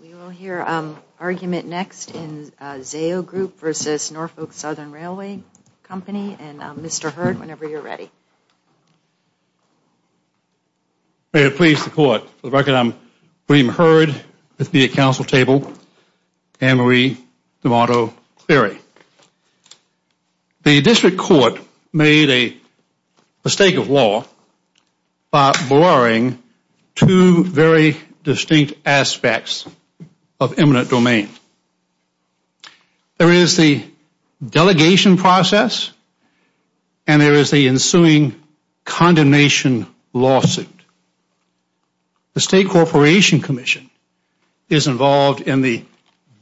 We will hear argument next in Zayo Group v. Norfolk Southern Railway Company, and Mr. Hurd, whenever you're ready. May it please the Court, for the record, I'm William Hurd with the Council Table, Anne-Marie D'Amato Cleary. The District Court made a mistake of law by blurring two very distinct aspects of eminent domain. There is the delegation process, and there is the ensuing condemnation lawsuit. The State Corporation Commission is involved in the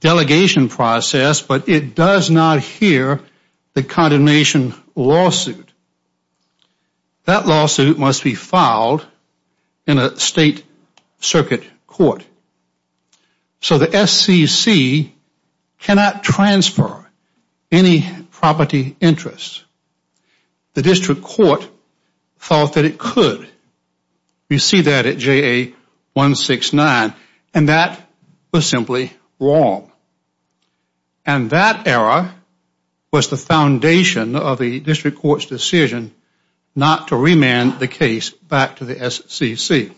delegation process, but it does not hear the condemnation lawsuit. That lawsuit must be filed in a State Circuit Court. So the SCC cannot transfer any property interest. The District Court thought that it could. You see that at JA-169, and that was simply wrong. And that error was the foundation of the District Court's decision not to remand the case back to the SCC.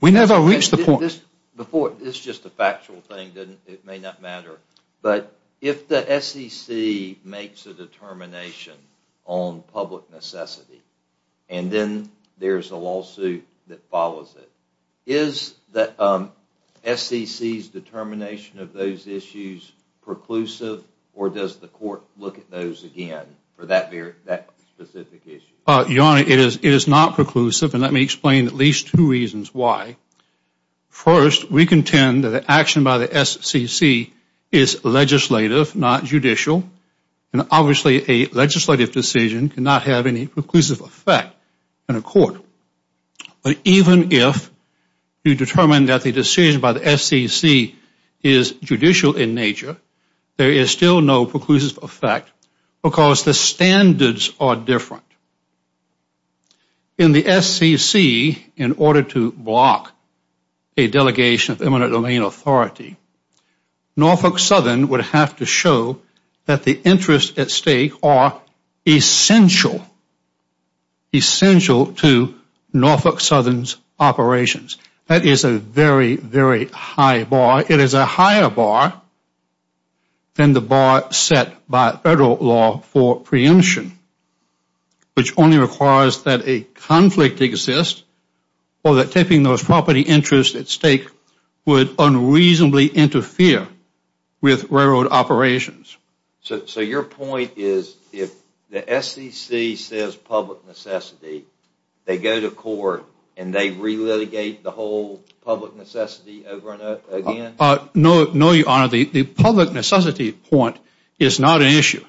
We never reached the point... This is just a factual thing. It may not matter. But if the SCC makes a determination on public necessity, and then there's a lawsuit that follows it, is the SCC's determination of those issues preclusive, or does the Court look at those again for that specific issue? Your Honor, it is not preclusive, and let me explain at least two reasons why. First, we contend that the action by the SCC is legislative, not judicial, and obviously a legislative decision cannot have any preclusive effect in a court. But even if you determine that the decision by the SCC is judicial in nature, there is still no preclusive effect because the standards are different. In the SCC, in order to block a delegation of eminent domain authority, Norfolk Southern would have to show that the interests at stake are essential, essential to Norfolk Southern's operations. That is a very, very high bar. It is a higher bar than the bar set by Federal law for preemption, which only requires that a conflict exists, or that tipping those property interests at stake would unreasonably interfere with railroad operations. So your point is if the SCC says public necessity, they go to court and they re-litigate the whole public necessity over and over again? No, Your Honor. The public necessity point is not an issue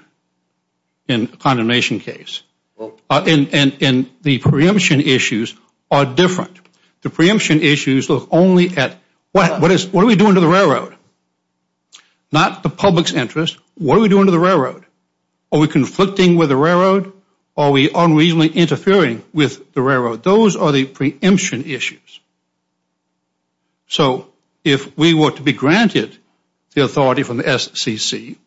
in a condemnation case, and the preemption issues are different. The preemption issues look only at what are we doing to the railroad? Not the public's interest. What are we doing to the railroad? Are we conflicting with the railroad? Are we unreasonably interfering with the railroad? Those are the preemption issues. So if we were to be granted the authority from the SCC,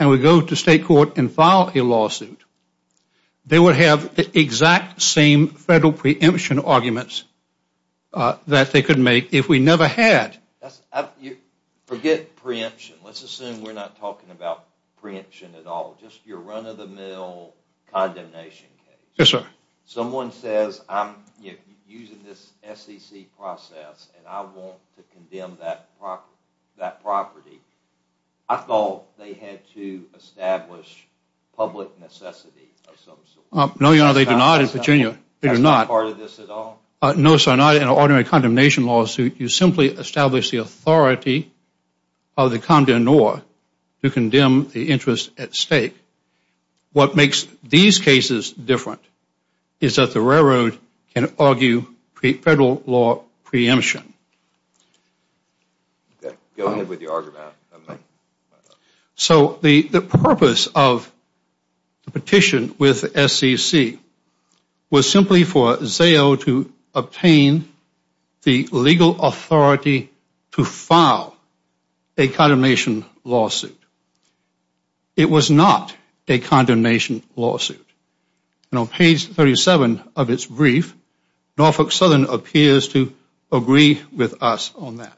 and we go to state court and file a lawsuit, they would have the exact same Federal preemption arguments that they could make if we never had. Forget preemption. Let's assume we're not talking about preemption at all. Just your run-of-the-mill condemnation case. Yes, sir. Someone says I'm using this SCC process and I want to condemn that property. I thought they had to establish public necessity of some sort. No, Your Honor. They do not in Virginia. That's not part of this at all? No, sir. Not in an ordinary condemnation lawsuit. You simply establish the authority of the condemnor to condemn the interest at stake. What makes these cases different is that the railroad can argue Federal law preemption. Go ahead with your argument. So the purpose of the petition with SCC was simply for ZAO to obtain the legal authority to file a condemnation lawsuit. It was not a condemnation lawsuit. On page 37 of its brief, Norfolk Southern appears to agree with us on that.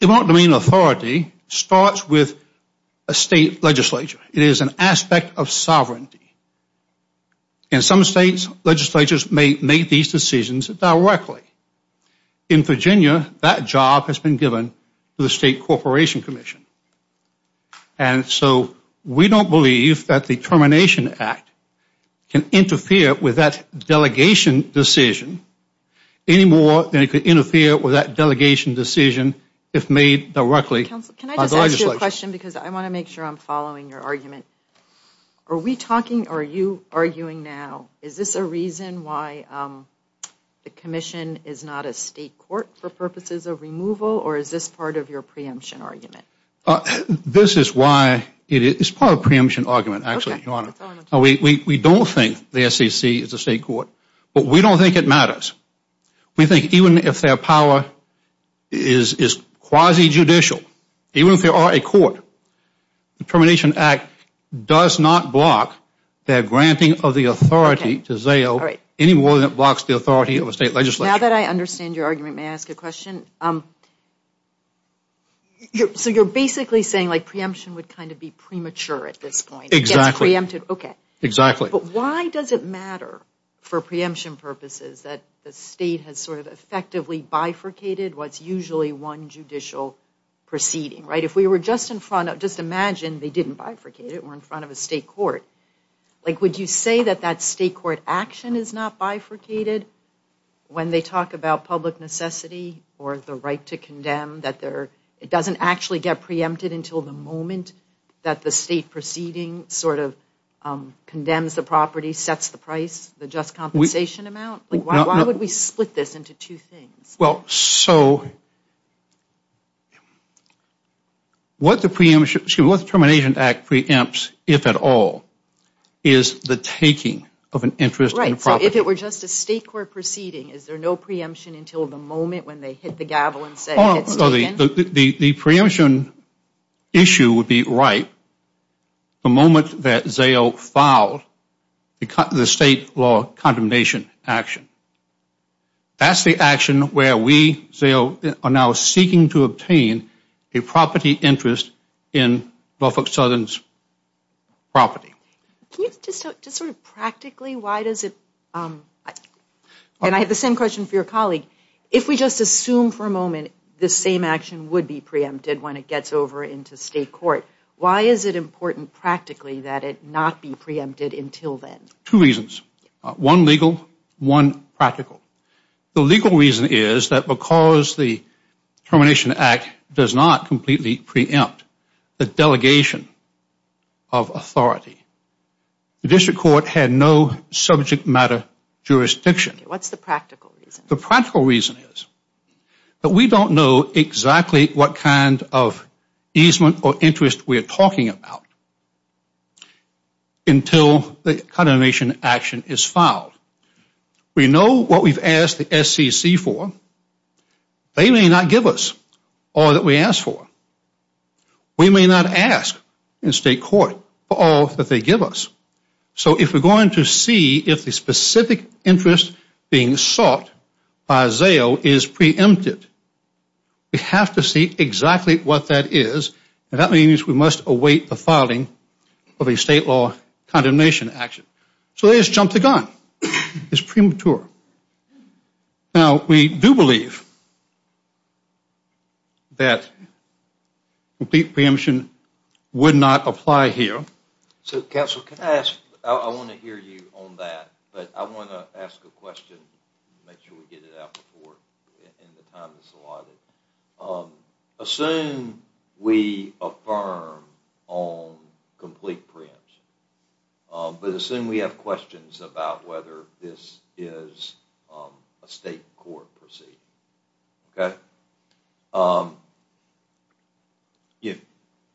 Demand and demand authority starts with a State legislature. It is an aspect of sovereignty. In some States, legislatures may make these decisions directly. In Virginia, that job has been given to the State Corporation Commission. And so we don't believe that the Termination Act can interfere with that delegation decision any more than it could interfere with that delegation decision if made directly. Counsel, can I just ask you a question because I want to make sure I'm following your argument. Are we talking or are you arguing now, is this a reason why the Commission is not a State court for purposes of removal or is this part of your preemption argument? This is why it is part of a preemption argument, actually, Your Honor. We don't think the SCC is a State court, but we don't think it matters. We think even if their power is quasi-judicial, even if they are a court, the Termination Act does not block their granting of the authority to ZAO any more than it blocks the authority of a State legislature. Now that I understand your argument, may I ask a question? So you're basically saying like preemption would kind of be premature at this point. Exactly. Okay. Exactly. But why does it matter for preemption purposes that the State has sort of effectively bifurcated what's usually one judicial proceeding, right? If we were just in front of, just imagine they didn't bifurcate it, we're in front of a State court. Would you say that that State court action is not bifurcated when they talk about public necessity or the right to condemn, that it doesn't actually get preempted until the moment that the State proceeding sort of condemns the property, sets the price, the just compensation amount? Why would we split this into two things? Well, so what the Termination Act preempts, if at all, is the taking of an interest in the property. Right. So if it were just a State court proceeding, is there no preemption until the moment when they hit the gavel and said it's taken? The preemption issue would be right the moment that ZAO filed the State law condemnation action. That's the action where we, ZAO, are now seeking to obtain a property interest in Norfolk Southern's property. Can you just sort of practically, why does it, and I have the same question for your colleague, if we just assume for a moment this same action would be preempted when it gets over into State court, why is it important practically that it not be preempted until then? Two reasons, one legal, one practical. The legal reason is that because the Termination Act does not completely preempt the delegation of authority, the District Court had no subject matter jurisdiction. What's the practical reason? The practical reason is that we don't know exactly what kind of easement or interest we're talking about until the condemnation action is filed. We know what we've asked the SCC for. They may not give us all that we ask for. We may not ask in State court for all that they give us. So if we're going to see if the specific interest being sought by ZAO is preempted, we have to see exactly what that is, and that means we must await the filing of a State law condemnation action. So they just jump the gun. It's premature. Now, we do believe that complete preemption would not apply here. So, Counsel, can I ask, I want to hear you on that, but I want to ask a question, make sure we get it out before the time is allotted. Assume we affirm on complete preemption, but assume we have questions about whether this is a State court proceeding.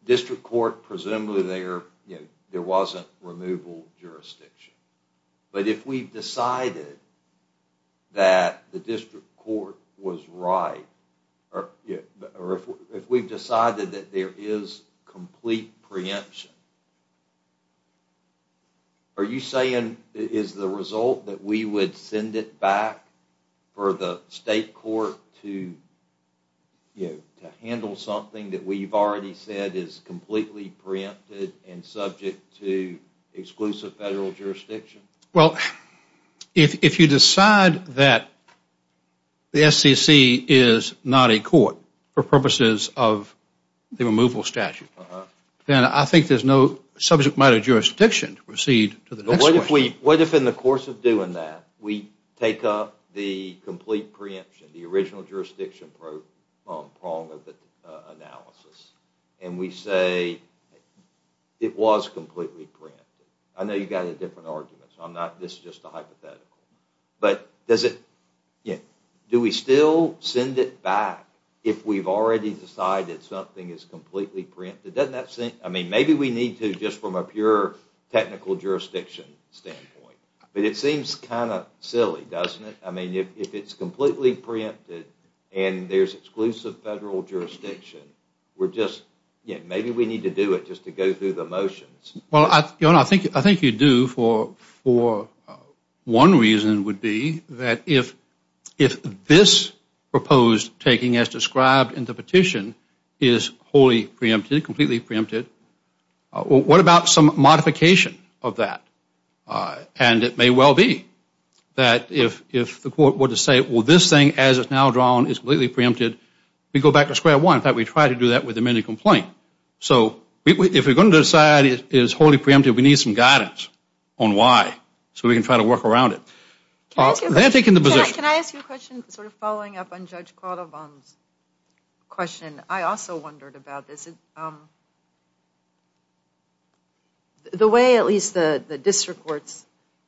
District Court, presumably there wasn't removal jurisdiction. But if we've decided that the District Court was right, or if we've decided that there is complete preemption, are you saying it is the result that we would send it back for the State court to handle something that we've already said is completely preempted and subject to exclusive Federal jurisdiction? Well, if you decide that the SCC is not a court for purposes of the removal statute, then I think there's no subject matter jurisdiction to proceed to the next question. What if in the course of doing that, we take up the complete preemption, the original jurisdiction prong of the analysis, and we say it was completely preempted. I know you've got a different argument, so this is just a hypothetical. But do we still send it back if we've already decided something is completely preempted? Maybe we need to just from a pure technical jurisdiction standpoint. But it seems kind of silly, doesn't it? If it's completely preempted and there's exclusive Federal jurisdiction, maybe we need to do it just to go through the motions. Well, I think you do for one reason would be that if this proposed taking as described in the petition is wholly preempted, completely preempted, what about some modification of that? And it may well be that if the court were to say, well, this thing as it's now drawn is completely preempted, we go back to square one, in fact, we try to do that with amended complaint. So if we're going to decide it is wholly preempted, we need some guidance on why, so we can try to work around it. Can I ask you a question sort of following up on Judge Caldwell's question? I also wondered about this. The way at least the district courts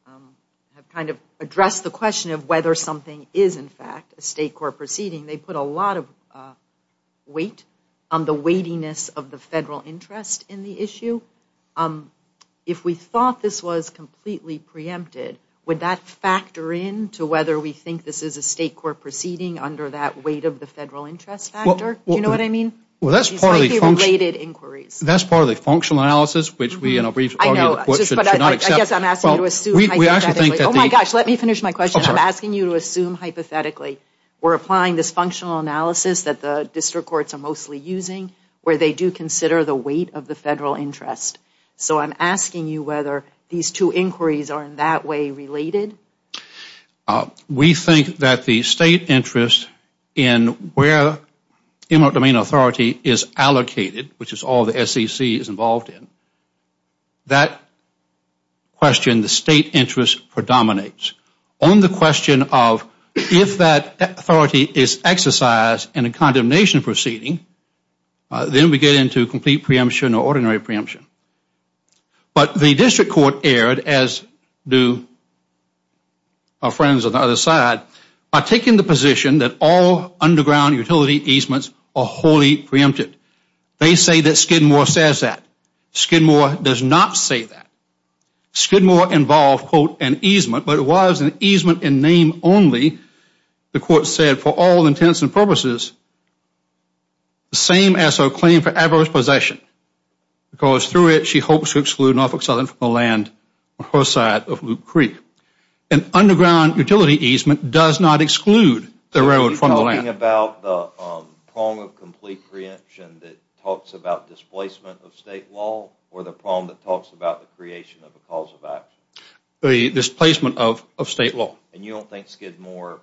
have kind of addressed the question of whether something is in fact a State court proceeding, they put a lot of weight on the weightiness of the Federal interest in the issue. If we thought this was completely preempted, would that factor in to whether we think this is a State court proceeding under that weight of the Federal interest factor? Do you know what I mean? Well, that's part of the function. That's part of the functional analysis which we, and I'll briefly argue the question. I guess I'm asking you to assume hypothetically. Oh, my gosh, let me finish my question. I'm asking you to assume hypothetically. We're applying this functional analysis that the district courts are mostly using where they do consider the weight of the Federal interest. So I'm asking you whether these two inquiries are in that way related? We think that the State interest in where eminent domain authority is allocated, which is all the SEC is involved in, that question, the State interest predominates. On the question of if that authority is exercised in a condemnation proceeding, then we get into complete preemption or ordinary preemption. But the district court erred, as do our friends on the other side, by taking the position that all underground utility easements are wholly preempted. They say that Skidmore says that. Skidmore does not say that. Skidmore involved, quote, an easement, but it was an easement in name only, the court said, for all intents and purposes, the same as her claim for adverse possession because through it she hopes to exclude Norfolk Southern from the land on her side of Loop Creek. An underground utility easement does not exclude the railroad from the land. Are you talking about the prong of complete preemption that talks about displacement of State law or the prong that talks about the creation of a cause of action? The displacement of State law. And you don't think Skidmore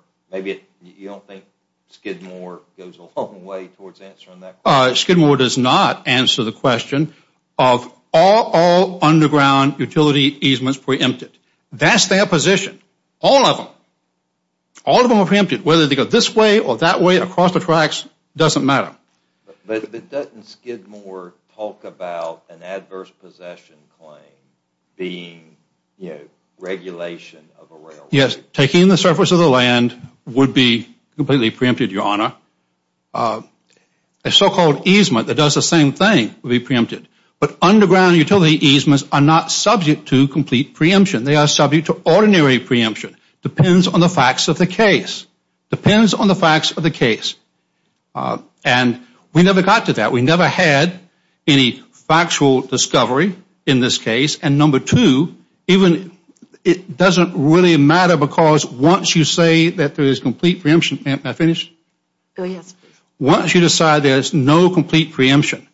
goes a long way towards answering that question? Skidmore does not answer the question of all underground utility easements preempted. That's their position, all of them. All of them are preempted. Whether they go this way or that way, across the tracks, doesn't matter. But doesn't Skidmore talk about an adverse possession claim being regulation of a railroad? Yes, taking the surface of the land would be completely preempted, Your Honor. A so-called easement that does the same thing would be preempted. But underground utility easements are not subject to complete preemption. They are subject to ordinary preemption. Depends on the facts of the case. Depends on the facts of the case. And we never got to that. We never had any factual discovery in this case. And number two, even it doesn't really matter because once you say that there is complete preemption. May I finish? Oh, yes, please. Once you decide there is no complete preemption,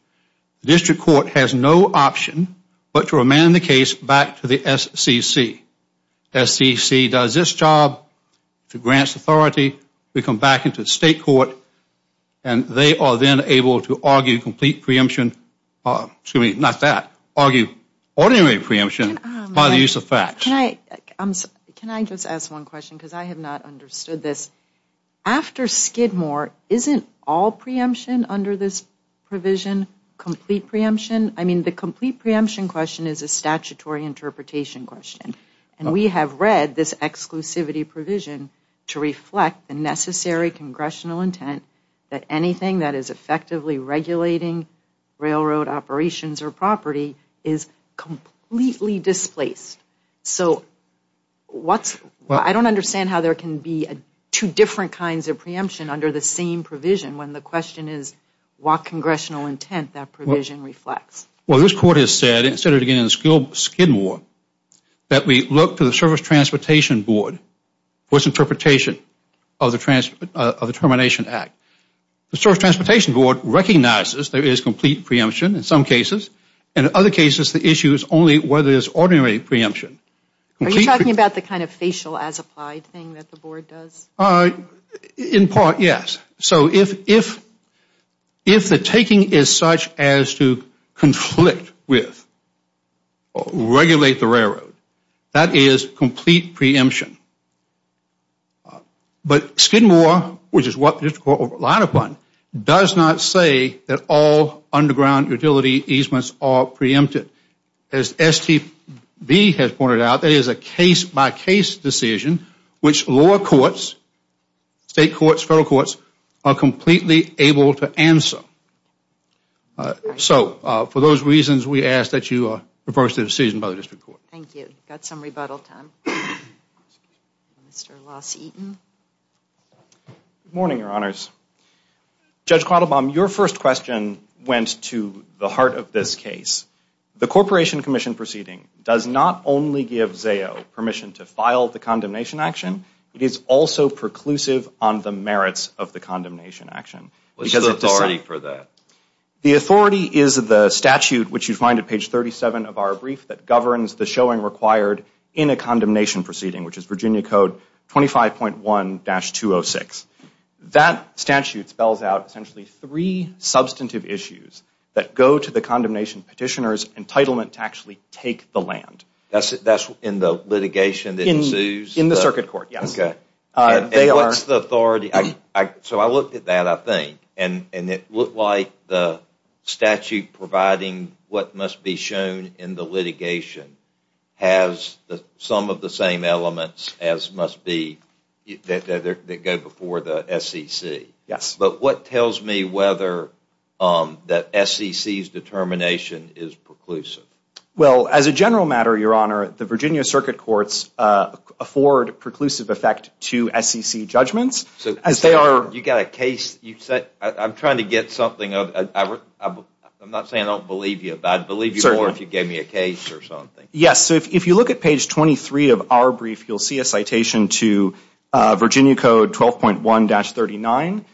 the District Court has no option but to remand the case back to the SCC. SCC does its job to grant authority. We come back into the State Court and they are then able to argue complete preemption, excuse me, not that, argue ordinary preemption by the use of facts. Can I just ask one question because I have not understood this? After Skidmore, isn't all preemption under this provision complete preemption? I mean the complete preemption question is a statutory interpretation question. And we have read this exclusivity provision to reflect the necessary congressional intent that anything that is effectively regulating railroad operations or property is completely displaced. So I don't understand how there can be two different kinds of preemption under the same provision when the question is what congressional intent that provision reflects. Well, this Court has said, and it said it again in Skidmore, that we look to the Service Transportation Board for its interpretation of the Termination Act. The Service Transportation Board recognizes there is complete preemption in some cases and in other cases the issue is only whether there is ordinary preemption. Are you talking about the kind of facial as applied thing that the Board does? In part, yes. So if the taking is such as to conflict with or regulate the railroad, that is complete preemption. But Skidmore, which is what the District Court relied upon, does not say that all underground utility easements are preempted. As STB has pointed out, that is a case-by-case decision, which lower courts, state courts, federal courts, are completely able to answer. So for those reasons, we ask that you reverse the decision by the District Court. Thank you. Got some rebuttal time. Mr. Los Eaton. Good morning, Your Honors. Judge Quattlebaum, your first question went to the heart of this case. The Corporation Commission proceeding does not only give ZAO permission to file the condemnation action, it is also preclusive on the merits of the condemnation action. What is the authority for that? The authority is the statute, which you find at page 37 of our brief, that governs the showing required in a condemnation proceeding, which is Virginia Code 25.1-206. That statute spells out essentially three substantive issues that go to the condemnation petitioner's entitlement to actually take the land. That's in the litigation that ensues? In the circuit court, yes. And what's the authority? So I looked at that, I think, and it looked like the statute providing what must be shown in the litigation has some of the same elements that go before the SEC. Yes. But what tells me whether the SEC's determination is preclusive? Well, as a general matter, Your Honor, the Virginia Circuit Courts afford preclusive effect to SEC judgments. You've got a case. I'm trying to get something. I'm not saying I don't believe you, but I'd believe you more if you gave me a case or something. Yes. So if you look at page 23 of our brief, you'll see a citation to Virginia Code 12.1-39,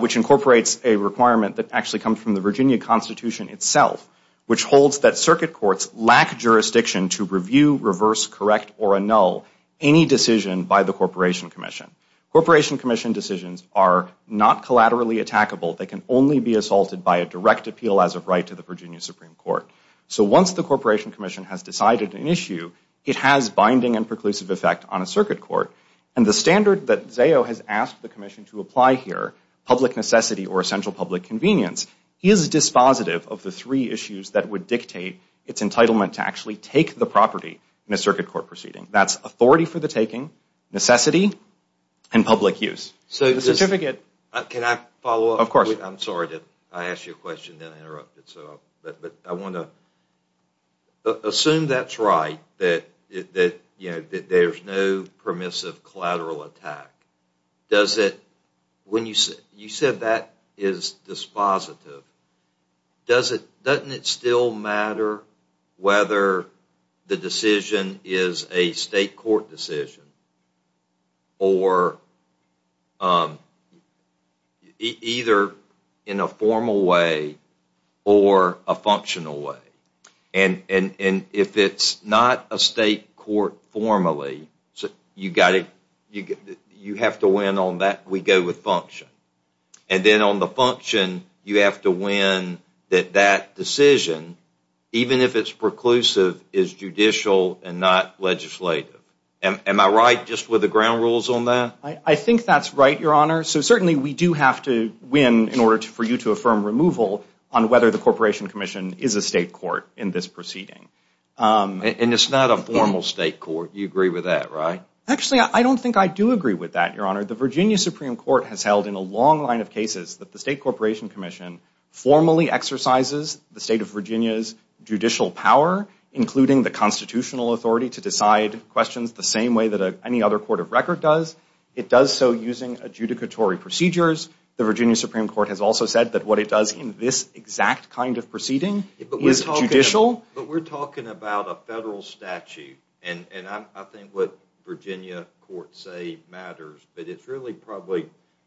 which incorporates a requirement that actually comes from the Virginia Constitution itself, which holds that circuit courts lack jurisdiction to review, reverse, correct, or annul any decision by the Corporation Commission. Corporation Commission decisions are not collaterally attackable. They can only be assaulted by a direct appeal as of right to the Virginia Supreme Court. So once the Corporation Commission has decided an issue, it has binding and preclusive effect on a circuit court. And the standard that Zao has asked the Commission to apply here, public necessity or essential public convenience, is dispositive of the three issues that would dictate its entitlement to actually take the property in a circuit court proceeding. That's authority for the taking, necessity, and public use. So the certificate... Can I follow up? Of course. I'm sorry. I asked you a question, then I interrupted. But I want to assume that's right, that there's no permissive collateral attack. Does it... When you said that is dispositive, doesn't it still matter whether the decision is a state court decision or either in a formal way or a functional way? And if it's not a state court formally, you have to win on that. We go with function. And then on the function, you have to win that that decision, even if it's preclusive, is judicial and not legislative. Am I right just with the ground rules on that? I think that's right, Your Honor. So certainly we do have to win in order for you to affirm removal on whether the Corporation Commission is a state court in this proceeding. And it's not a formal state court. You agree with that, right? Actually, I don't think I do agree with that, Your Honor. The Virginia Supreme Court has held in a long line of cases that the State Corporation Commission formally exercises the state of Virginia's judicial power, including the constitutional authority to decide questions the same way that any other court of record does. It does so using adjudicatory procedures. The Virginia Supreme Court has also said that what it does in this exact kind of proceeding is judicial. But we're talking about a federal statute. And I think what Virginia courts say matters. But it's really probably,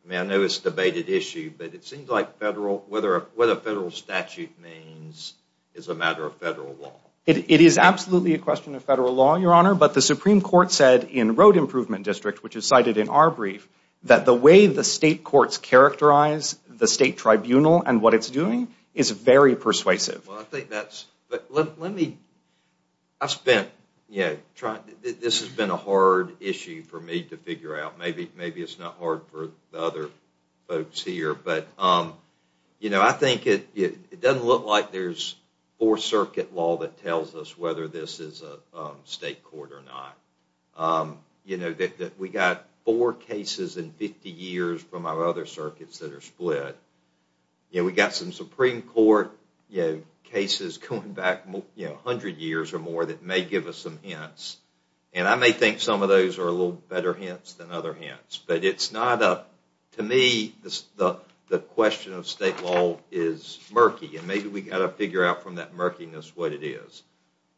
I mean, I know it's a debated issue, but it seems like what a federal statute means is a matter of federal law. It is absolutely a question of federal law, Your Honor. But the Supreme Court said in Road Improvement District, which is cited in our brief, that the way the state courts characterize the state tribunal and what it's doing is very persuasive. Well, I think that's, but let me, I've spent, yeah, this has been a hard issue for me to figure out. Maybe it's not hard for the other folks here. But I think it doesn't look like there's four-circuit law that tells us whether this is a state court or not. We've got four cases in 50 years from our other circuits that are split. We've got some Supreme Court cases going back 100 years or more that may give us some hints. And I may think some of those are a little better hints than other hints. But it's not a, to me, the question of state law is murky. And maybe we've got to figure out from that murkiness what it is.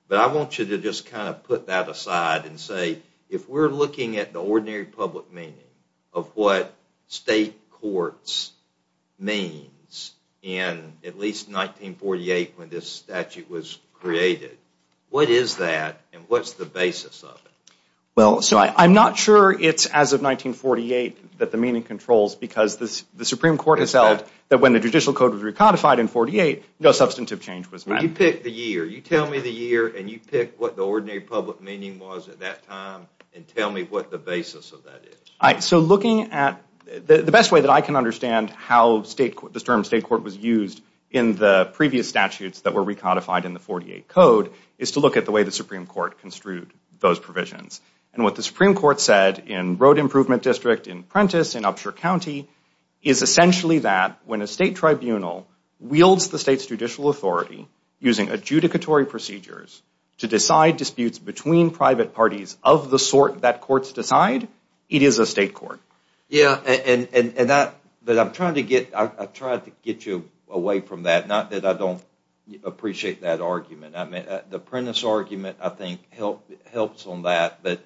But I want you to just kind of put that aside and say, if we're looking at the ordinary public meaning of what state courts means in at least 1948 when this statute was created, what is that and what's the basis of it? Well, so I'm not sure it's as of 1948 that the meaning controls because the Supreme Court has held that when the judicial code was recodified in 48, no substantive change was made. You pick the year. You tell me the year and you pick what the ordinary public meaning was at that time and tell me what the basis of that is. All right. So looking at, the best way that I can understand how the term state court was used in the previous statutes that were recodified in the 48 code is to look at the way the Supreme Court construed those provisions. And what the Supreme Court said in Road Improvement District in Prentiss in Upshur County is essentially that when a state tribunal wields the state's judicial authority using adjudicatory procedures to decide disputes between private parties of the sort that courts decide, it is a state court. Yeah, but I'm trying to get you away from that. Not that I don't appreciate that argument. The Prentiss argument, I think, helps on that, but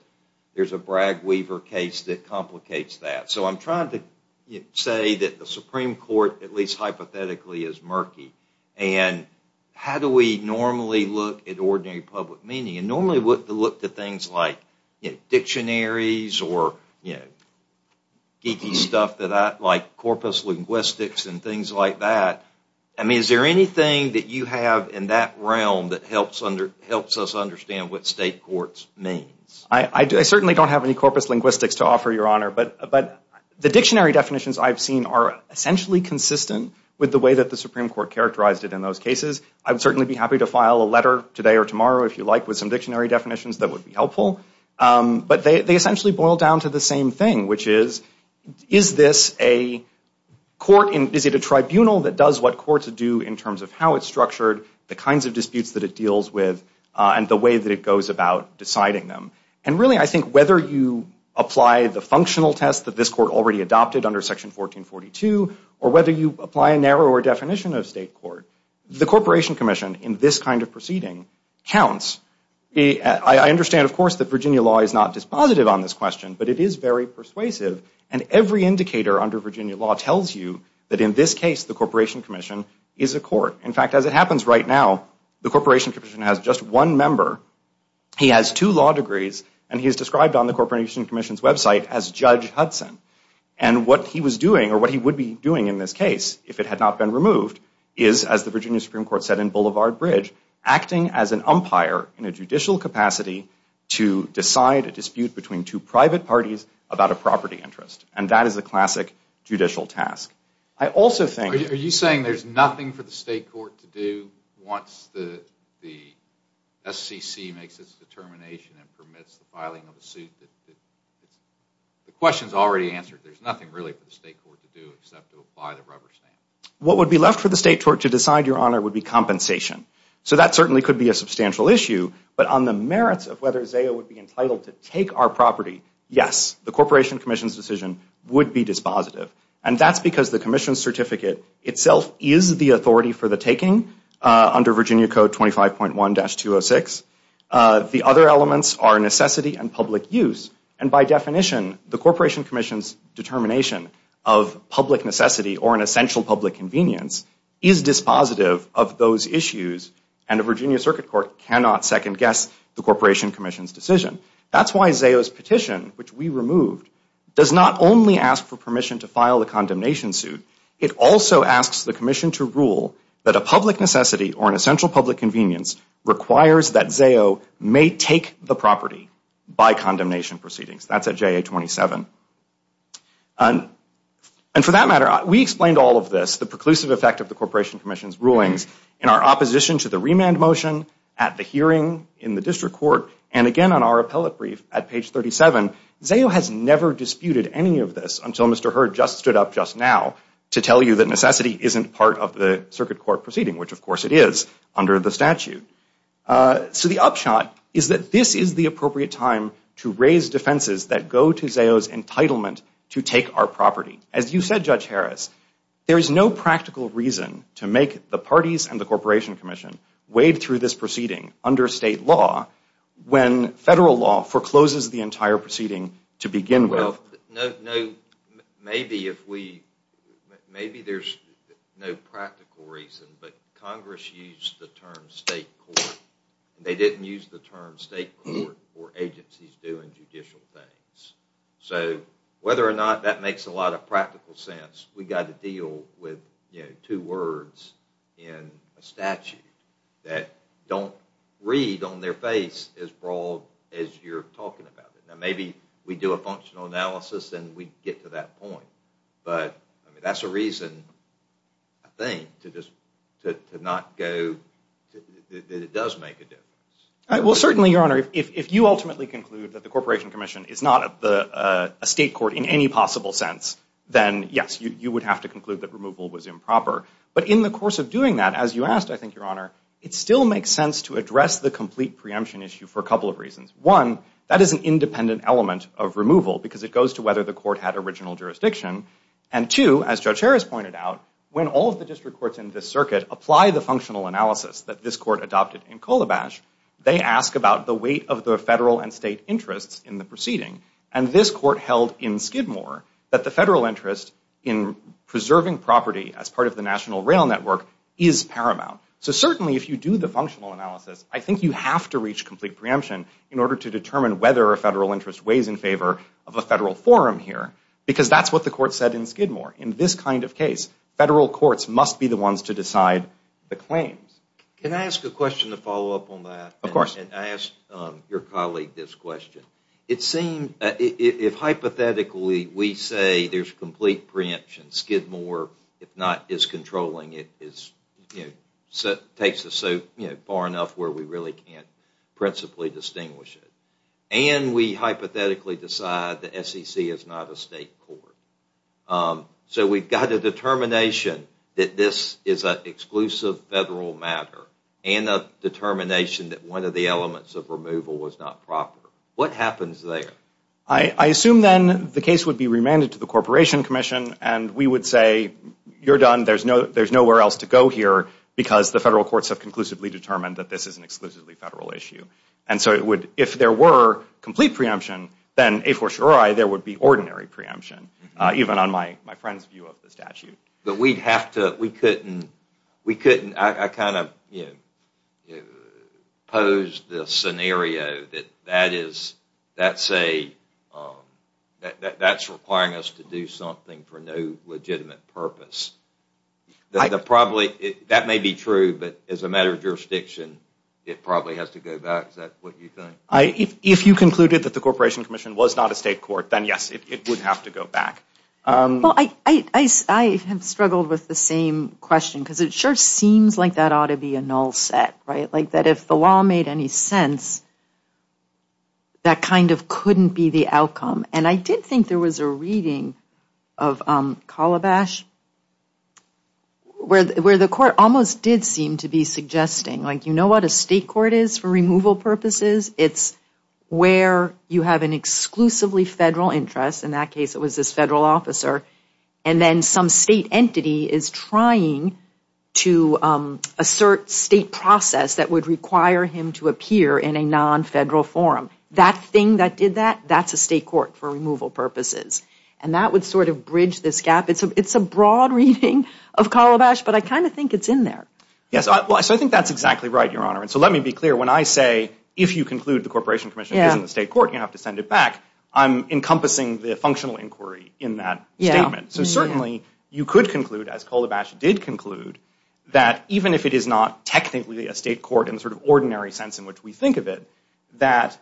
there's a Bragg-Weaver case that complicates that. So I'm trying to say that the Supreme Court, at least hypothetically, is murky. And how do we normally look at ordinary public meaning? You normally look at things like dictionaries or geeky stuff like that, like corpus linguistics and things like that. I mean, is there anything that you have in that realm that helps us understand what state courts means? I certainly don't have any corpus linguistics to offer, Your Honor. But the dictionary definitions I've seen are essentially consistent with the way that the Supreme Court characterized it in those cases. I would certainly be happy to file a letter today or tomorrow, if you like, with some dictionary definitions that would be helpful. But they essentially boil down to the same thing, which is, is this a court? Is it a tribunal that does what courts do in terms of how it's structured, the kinds of disputes that it deals with, and the way that it goes about deciding them? And really, I think whether you apply the functional test that this court already adopted under Section 1442, or whether you apply a narrower definition of state court, the Corporation Commission in this kind of proceeding counts. I understand, of course, that Virginia law is not dispositive on this question, but it is very persuasive. And every indicator under Virginia law tells you that in this case, the Corporation Commission is a court. In fact, as it happens right now, the Corporation Commission has just one member, he has two law degrees, and he is described on the Corporation Commission's website as Judge Hudson. And what he was doing, or what he would be doing in this case, if it had not been removed, is, as the Virginia Supreme Court said in Boulevard Bridge, acting as an umpire in a judicial capacity to decide a dispute between two private parties about a property interest. And that is a classic judicial task. Are you saying there's nothing for the state court to do once the SCC makes its determination and permits the filing of a suit? The question is already answered. There's nothing really for the state court to do except to apply the rubber stamp. What would be left for the state court to decide, Your Honor, would be compensation. So that certainly could be a substantial issue. But on the merits of whether Zaya would be entitled to take our property, yes, the Corporation Commission's decision would be dispositive. And that's because the Commission's certificate itself is the authority for the taking under Virginia Code 25.1-206. The other elements are necessity and public use. And by definition, the Corporation Commission's determination of public necessity or an essential public convenience is dispositive of those issues, and the Virginia Circuit Court cannot second-guess the Corporation Commission's decision. That's why Zayo's petition, which we removed, does not only ask for permission to file a condemnation suit. It also asks the Commission to rule that a public necessity or an essential public convenience requires that Zayo may take the property by condemnation proceedings. That's at JA-27. And for that matter, we explained all of this, the preclusive effect of the Corporation Commission's rulings, in our opposition to the remand motion, at the hearing, in the district court, and again on our appellate brief at page 37. Zayo has never disputed any of this until Mr. Hurd just stood up just now to tell you that necessity isn't part of the circuit court proceeding, which, of course, it is under the statute. So the upshot is that this is the appropriate time to raise defenses that go to Zayo's entitlement to take our property. As you said, Judge Harris, there is no practical reason to make the parties and the Corporation Commission wade through this proceeding under state law when federal law forecloses the entire proceeding to begin with. Maybe there's no practical reason, but Congress used the term state court. They didn't use the term state court for agencies doing judicial things. So whether or not that makes a lot of practical sense, we've got to deal with two words in a statute that don't read on their face as broad as you're talking about it. Now, maybe we do a functional analysis and we get to that point. But that's a reason, I think, to just not go that it does make a difference. Well, certainly, Your Honor, if you ultimately conclude that the Corporation Commission is not a state court in any possible sense, then yes, you would have to conclude that removal was improper. But in the course of doing that, as you asked, I think, Your Honor, it still makes sense to address the complete preemption issue for a couple of reasons. One, that is an independent element of removal because it goes to whether the court had original jurisdiction. And two, as Judge Harris pointed out, when all of the district courts in this circuit apply the functional analysis that this court adopted in Kolobash, they ask about the weight of the federal and state interests in the proceeding. And this court held in Skidmore that the federal interest in preserving property as part of the National Rail Network is paramount. So certainly, if you do the functional analysis, I think you have to reach a complete preemption in order to determine whether a federal interest weighs in favor of a federal forum here because that's what the court said in Skidmore. In this kind of case, federal courts must be the ones to decide the claims. Can I ask a question to follow up on that? Of course. And I asked your colleague this question. It seemed if hypothetically we say there's complete preemption, Skidmore, if not, is controlling it, takes us so far enough where we really can't principally distinguish it. And we hypothetically decide the SEC is not a state court. So we've got a determination that this is an exclusive federal matter and a determination that one of the elements of removal was not proper. What happens there? I assume then the case would be remanded to the Corporation Commission and we would say, you're done, there's nowhere else to go here because the federal courts have conclusively determined that this is an exclusively federal issue. And so if there were complete preemption, then a for surei, there would be ordinary preemption, even on my friend's view of the statute. But we'd have to, we couldn't, I kind of posed the scenario that that is, that's a, that's requiring us to do something for no legitimate purpose. That may be true, but as a matter of jurisdiction, it probably has to go back. Is that what you think? If you concluded that the Corporation Commission was not a state court, then yes, it would have to go back. Well, I have struggled with the same question because it sure seems like that ought to be a null set, right? That kind of couldn't be the outcome. And I did think there was a reading of Calabash where the court almost did seem to be suggesting, like, you know what a state court is for removal purposes? It's where you have an exclusively federal interest, in that case it was this federal officer, and then some state entity is trying to assert state process that would require him to appear in a non-federal forum. That thing that did that, that's a state court for removal purposes. And that would sort of bridge this gap. It's a broad reading of Calabash, but I kind of think it's in there. Yes, so I think that's exactly right, Your Honor. And so let me be clear, when I say if you conclude the Corporation Commission isn't a state court, you have to send it back, I'm encompassing the functional inquiry in that statement. So certainly you could conclude, as Calabash did conclude, that even if it is not technically a state court in the sort of ordinary sense in which we think of it, that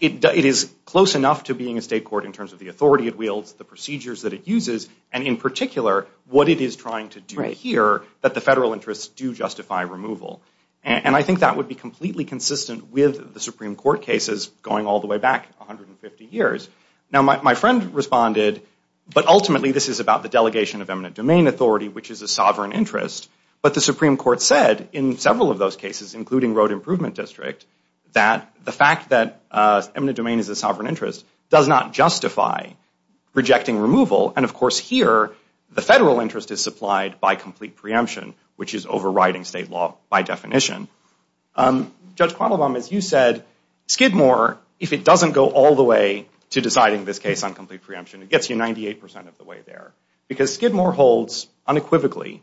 it is close enough to being a state court in terms of the authority it wields, the procedures that it uses, and in particular what it is trying to do here that the federal interests do justify removal. And I think that would be completely consistent with the Supreme Court cases going all the way back 150 years. Now, my friend responded, but ultimately this is about the delegation of eminent domain authority, which is a sovereign interest. But the Supreme Court said in several of those cases, including Road Improvement District, that the fact that eminent domain is a sovereign interest does not justify rejecting removal. And of course here, the federal interest is supplied by complete preemption, which is overriding state law by definition. Judge Quattlebaum, as you said, Skidmore, if it doesn't go all the way to deciding this case on complete preemption, it gets you 98% of the way there. Because Skidmore holds unequivocally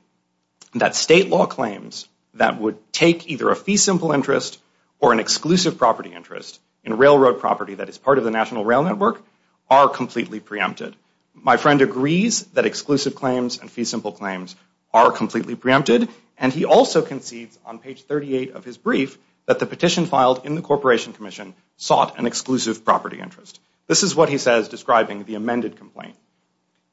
that state law claims that would take either a fee simple interest or an exclusive property interest in railroad property that is part of the National Rail Network are completely preempted. My friend agrees that exclusive claims and fee simple claims are completely preempted, and he also concedes on page 38 of his brief that the petition filed in the Corporation Commission sought an exclusive property interest. This is what he says describing the amended complaint.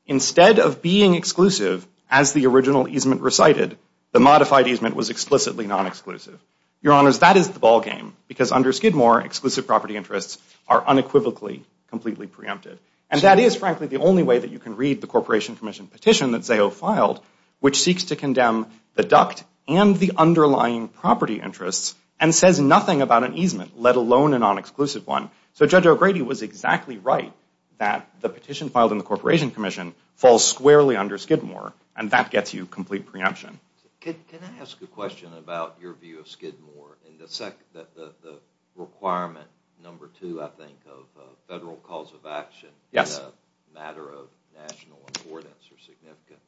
Instead of being exclusive, as the original easement recited, the modified easement was explicitly non-exclusive. Your Honors, that is the ball game, because under Skidmore, exclusive property interests are unequivocally completely preempted. And that is, frankly, the only way that you can read the Corporation Commission petition that Zaho filed, which seeks to condemn the duct and the underlying property interests and says nothing about an easement, let alone a non-exclusive one. So Judge O'Grady was exactly right that the petition filed in the Corporation Commission falls squarely under Skidmore, and that gets you complete preemption. Can I ask a question about your view of Skidmore and the requirement, number two, I think, of a federal cause of action in a matter of national importance or significance?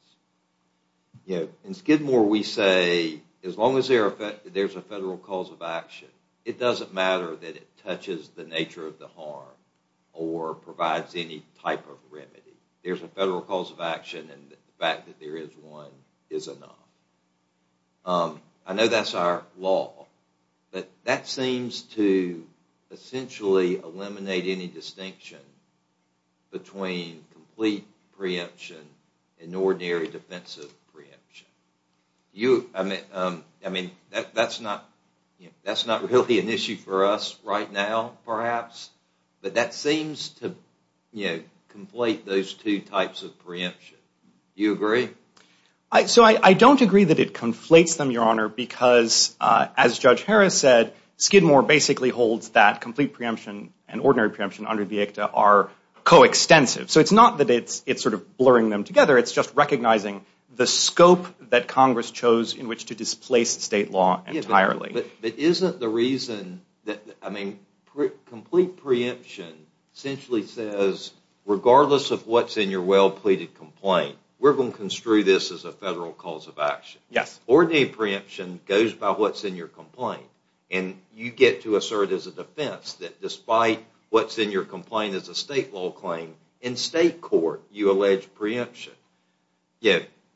In Skidmore, we say as long as there's a federal cause of action, it doesn't matter that it touches the nature of the harm or provides any type of remedy. There's a federal cause of action, and the fact that there is one is enough. I know that's our law, but that seems to essentially eliminate any distinction between complete preemption and ordinary defensive preemption. I mean, that's not really an issue for us right now, perhaps, but that seems to conflate those two types of preemption. Do you agree? So I don't agree that it conflates them, Your Honor, because as Judge Harris said, Skidmore basically holds that complete preemption and ordinary preemption under the ICTA are coextensive. So it's not that it's sort of blurring them together. It's just recognizing the scope that Congress chose in which to displace state law entirely. But isn't the reason that, I mean, complete preemption essentially says regardless of what's in your well-pleaded complaint, we're going to construe this as a federal cause of action. Yes. Ordinary preemption goes by what's in your complaint, and you get to assert as a defense that despite what's in your complaint as a state law claim, in state court, you allege preemption.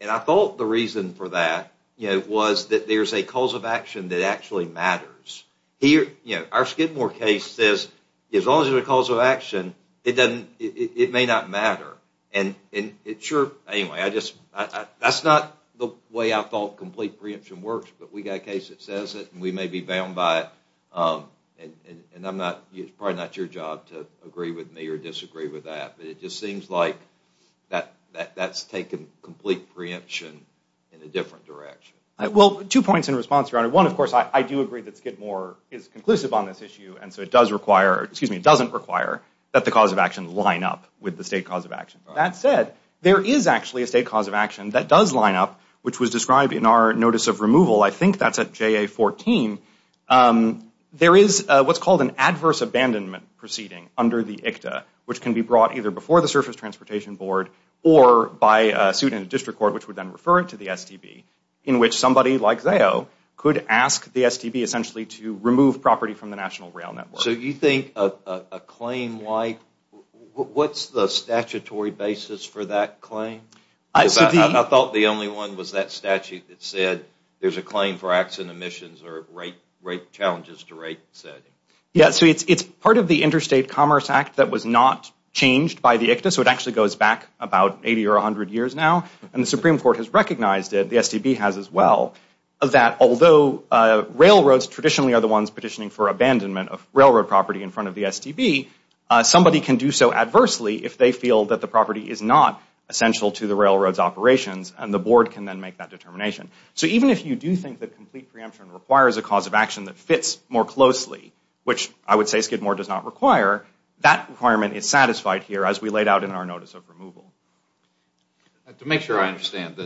And I thought the reason for that was that there's a cause of action that actually matters. Our Skidmore case says as long as there's a cause of action, it may not matter. And sure, anyway, that's not the way I thought complete preemption works, but we've got a case that says it, and we may be bound by it, and it's probably not your job to agree with me or disagree with that. But it just seems like that's taken complete preemption in a different direction. Well, two points in response, Your Honor. One, of course, I do agree that Skidmore is conclusive on this issue, and so it doesn't require that the cause of action line up with the state cause of action. That said, there is actually a state cause of action that does line up, which was described in our notice of removal. I think that's at JA-14. There is what's called an adverse abandonment proceeding under the ICTA, which can be brought either before the Surface Transportation Board or by a suit in a district court, which would then refer it to the STB, in which somebody like Zao could ask the STB essentially to remove property from the National Rail Network. So you think a claim like, what's the statutory basis for that claim? I thought the only one was that statute that said there's a claim for acts and omissions or challenges to rights. Yeah, so it's part of the Interstate Commerce Act that was not changed by the ICTA, so it actually goes back about 80 or 100 years now, and the Supreme Court has recognized it, the STB has as well, that although railroads traditionally are the ones petitioning for abandonment of railroad property in front of the STB, somebody can do so adversely if they feel that the property is not essential to the railroad's operations, and the board can then make that determination. So even if you do think that complete preemption requires a cause of action that fits more closely, which I would say Skidmore does not require, that requirement is satisfied here as we laid out in our notice of removal. To make sure I understand,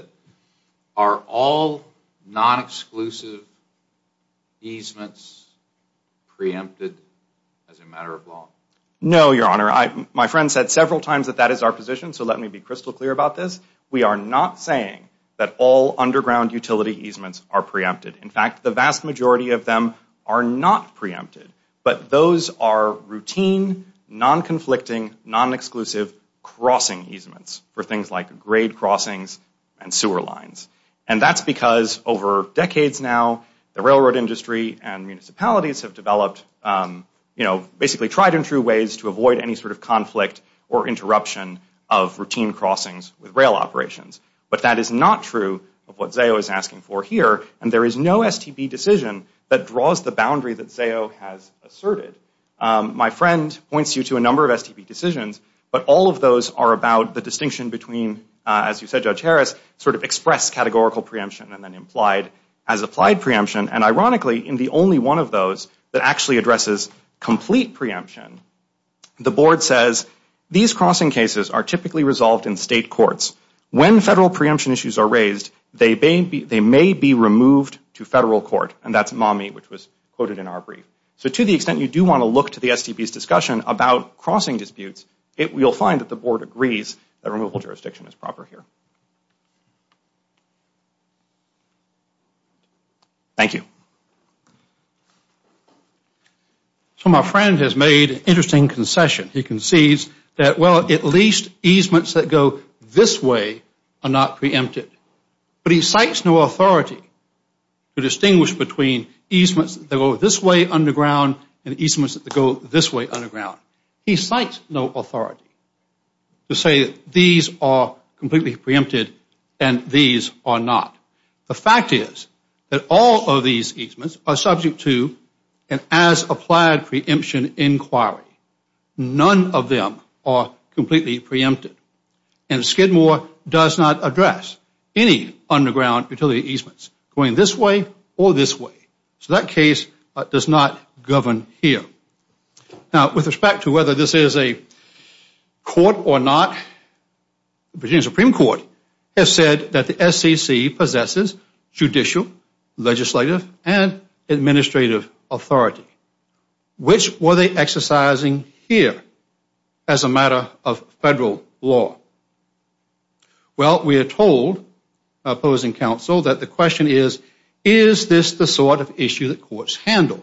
are all non-exclusive easements preempted as a matter of law? No, Your Honor, my friend said several times that that is our position, so let me be crystal clear about this. We are not saying that all underground utility easements are preempted. In fact, the vast majority of them are not preempted, but those are routine, non-conflicting, non-exclusive crossing easements for things like grade crossings and sewer lines. And that's because over decades now, the railroad industry and municipalities have developed, you know, basically tried and true ways to avoid any sort of But that is not true of what Zao is asking for here, and there is no STB decision that draws the boundary that Zao has asserted. My friend points you to a number of STB decisions, but all of those are about the distinction between, as you said, Judge Harris, sort of express categorical preemption and then implied as applied preemption. And ironically, in the only one of those that actually addresses complete preemption, the board says, these crossing cases are typically resolved in federal court. When federal preemption issues are raised, they may be removed to federal court, and that's MAMI, which was quoted in our brief. So to the extent you do want to look to the STB's discussion about crossing disputes, you'll find that the board agrees that removal jurisdiction is proper here. Thank you. So my friend has made an interesting concession. He concedes that, well, at least easements that go this way are not preempted. But he cites no authority to distinguish between easements that go this way underground and easements that go this way underground. He cites no authority to say these are completely preempted and these are not. The fact is that all of these easements are subject to an as-applied preemption inquiry. None of them are completely preempted. And Skidmore does not address any underground utility easements going this way or this way. So that case does not govern here. Now, with respect to whether this is a court or not, the Virginia Supreme Court has said that the SEC possesses judicial, legislative, and Which were they exercising here as a matter of federal law? Well, we are told, opposing counsel, that the question is, is this the sort of issue that courts handle?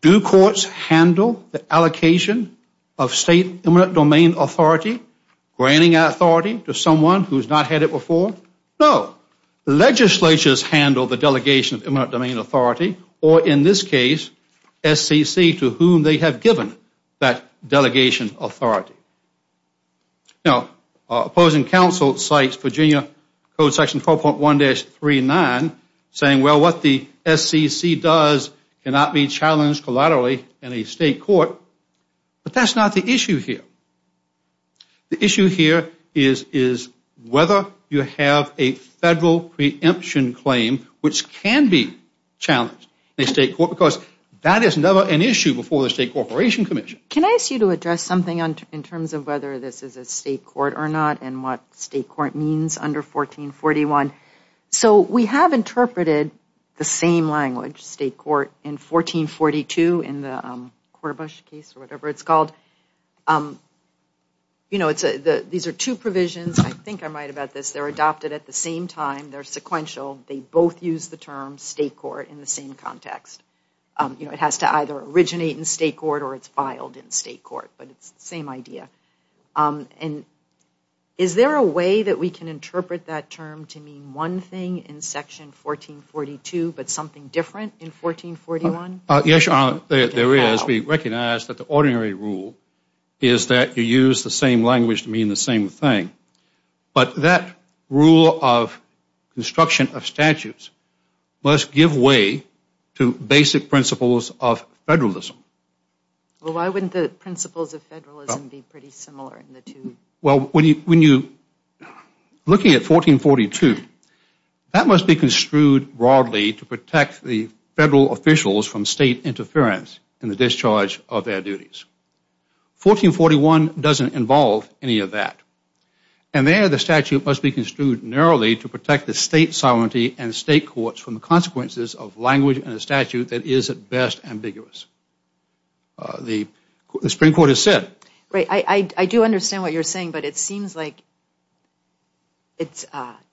Do courts handle the allocation of state eminent domain authority, granting authority to someone who has not had it before? No. Legislatures handle the delegation of eminent domain authority or, in this case, SEC to whom they have given that delegation authority. Now, opposing counsel cites Virginia Code Section 4.1-39 saying, well, what the SEC does cannot be challenged collaterally in a state court. But that is not the issue here. The issue here is whether you have a federal preemption claim which can be issue before the State Corporation Commission. Can I ask you to address something in terms of whether this is a state court or not and what state court means under 1441? So we have interpreted the same language, state court, in 1442 in the Corbush case or whatever it's called. You know, these are two provisions. I think I'm right about this. They're adopted at the same time. They're sequential. They both use the term state court in the same context. You know, it has to either originate in state court or it's filed in state court, but it's the same idea. And is there a way that we can interpret that term to mean one thing in Section 1442 but something different in 1441? Yes, Your Honor. There is. We recognize that the ordinary rule is that you use the same language to mean the same thing. But that rule of construction of statutes must give way to basic principles of federalism. Well, why wouldn't the principles of federalism be pretty similar in the two? Well, when you're looking at 1442, that must be construed broadly to protect the federal officials from state interference in the discharge of their duties. 1441 doesn't involve any of that. And there, the statute must be construed narrowly to protect the state sovereignty and state courts from the consequences of language in a statute that is at best ambiguous. The Supreme Court has said. Right. I do understand what you're saying, but it seems like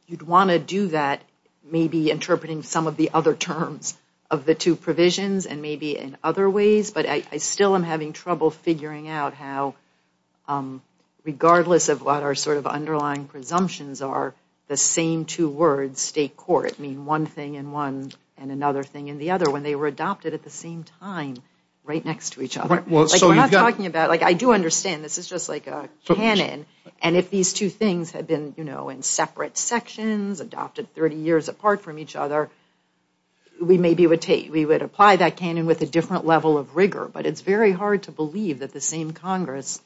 you'd want to do that, maybe interpreting some of the other terms of the two provisions and maybe in other ways. But I still am having trouble figuring out how, regardless of what our sort of underlying presumptions are, the same two words, state court, mean one thing and one and another thing and the other when they were adopted at the same time right next to each other. Well, so you've got. Like, we're not talking about, like, I do understand this is just like a canon. And if these two things had been, you know, in separate sections, adopted 30 years apart from each other, we maybe would take, we would apply that again with a different level of rigor. But it's very hard to believe that the same Congress,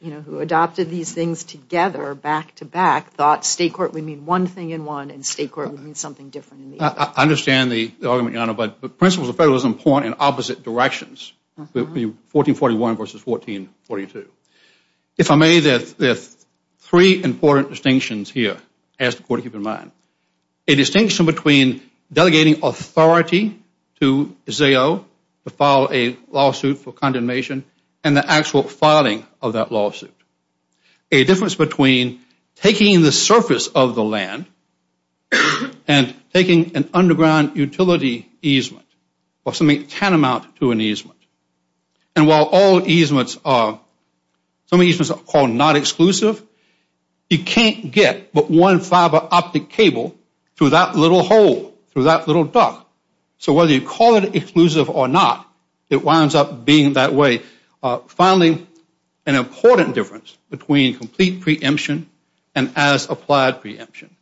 you know, who adopted these things together back to back, thought state court would mean one thing and one and state court would mean something different. I understand the argument, Your Honor, but principles of federalism point in opposite directions. 1441 versus 1442. If I may, there's three important distinctions here. I ask the Court to keep in mind. A distinction between delegating authority to ZAO to file a lawsuit for condemnation and the actual filing of that lawsuit. A difference between taking the surface of the land and taking an underground utility easement or something tantamount to an easement. And while all easements are, some easements are called not exclusive, you that little hole, through that little duct. So whether you call it exclusive or not, it winds up being that way. Finally, an important difference between complete preemption and as applied preemption.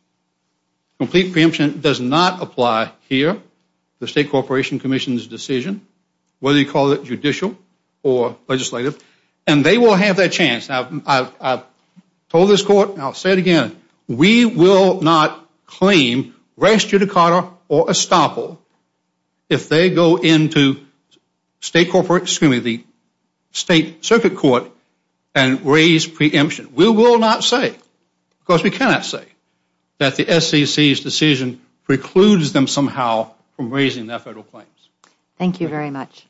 Complete preemption does not apply here. The State Corporation Commission's decision, whether you call it judicial or legislative, and they will have that chance. I've told this Court, and I'll say it again, we will not claim res judicata or estoppel if they go into the State Circuit Court and raise preemption. We will not say, because we cannot say, that the SEC's decision precludes them somehow from raising their federal claims. Thank you very much.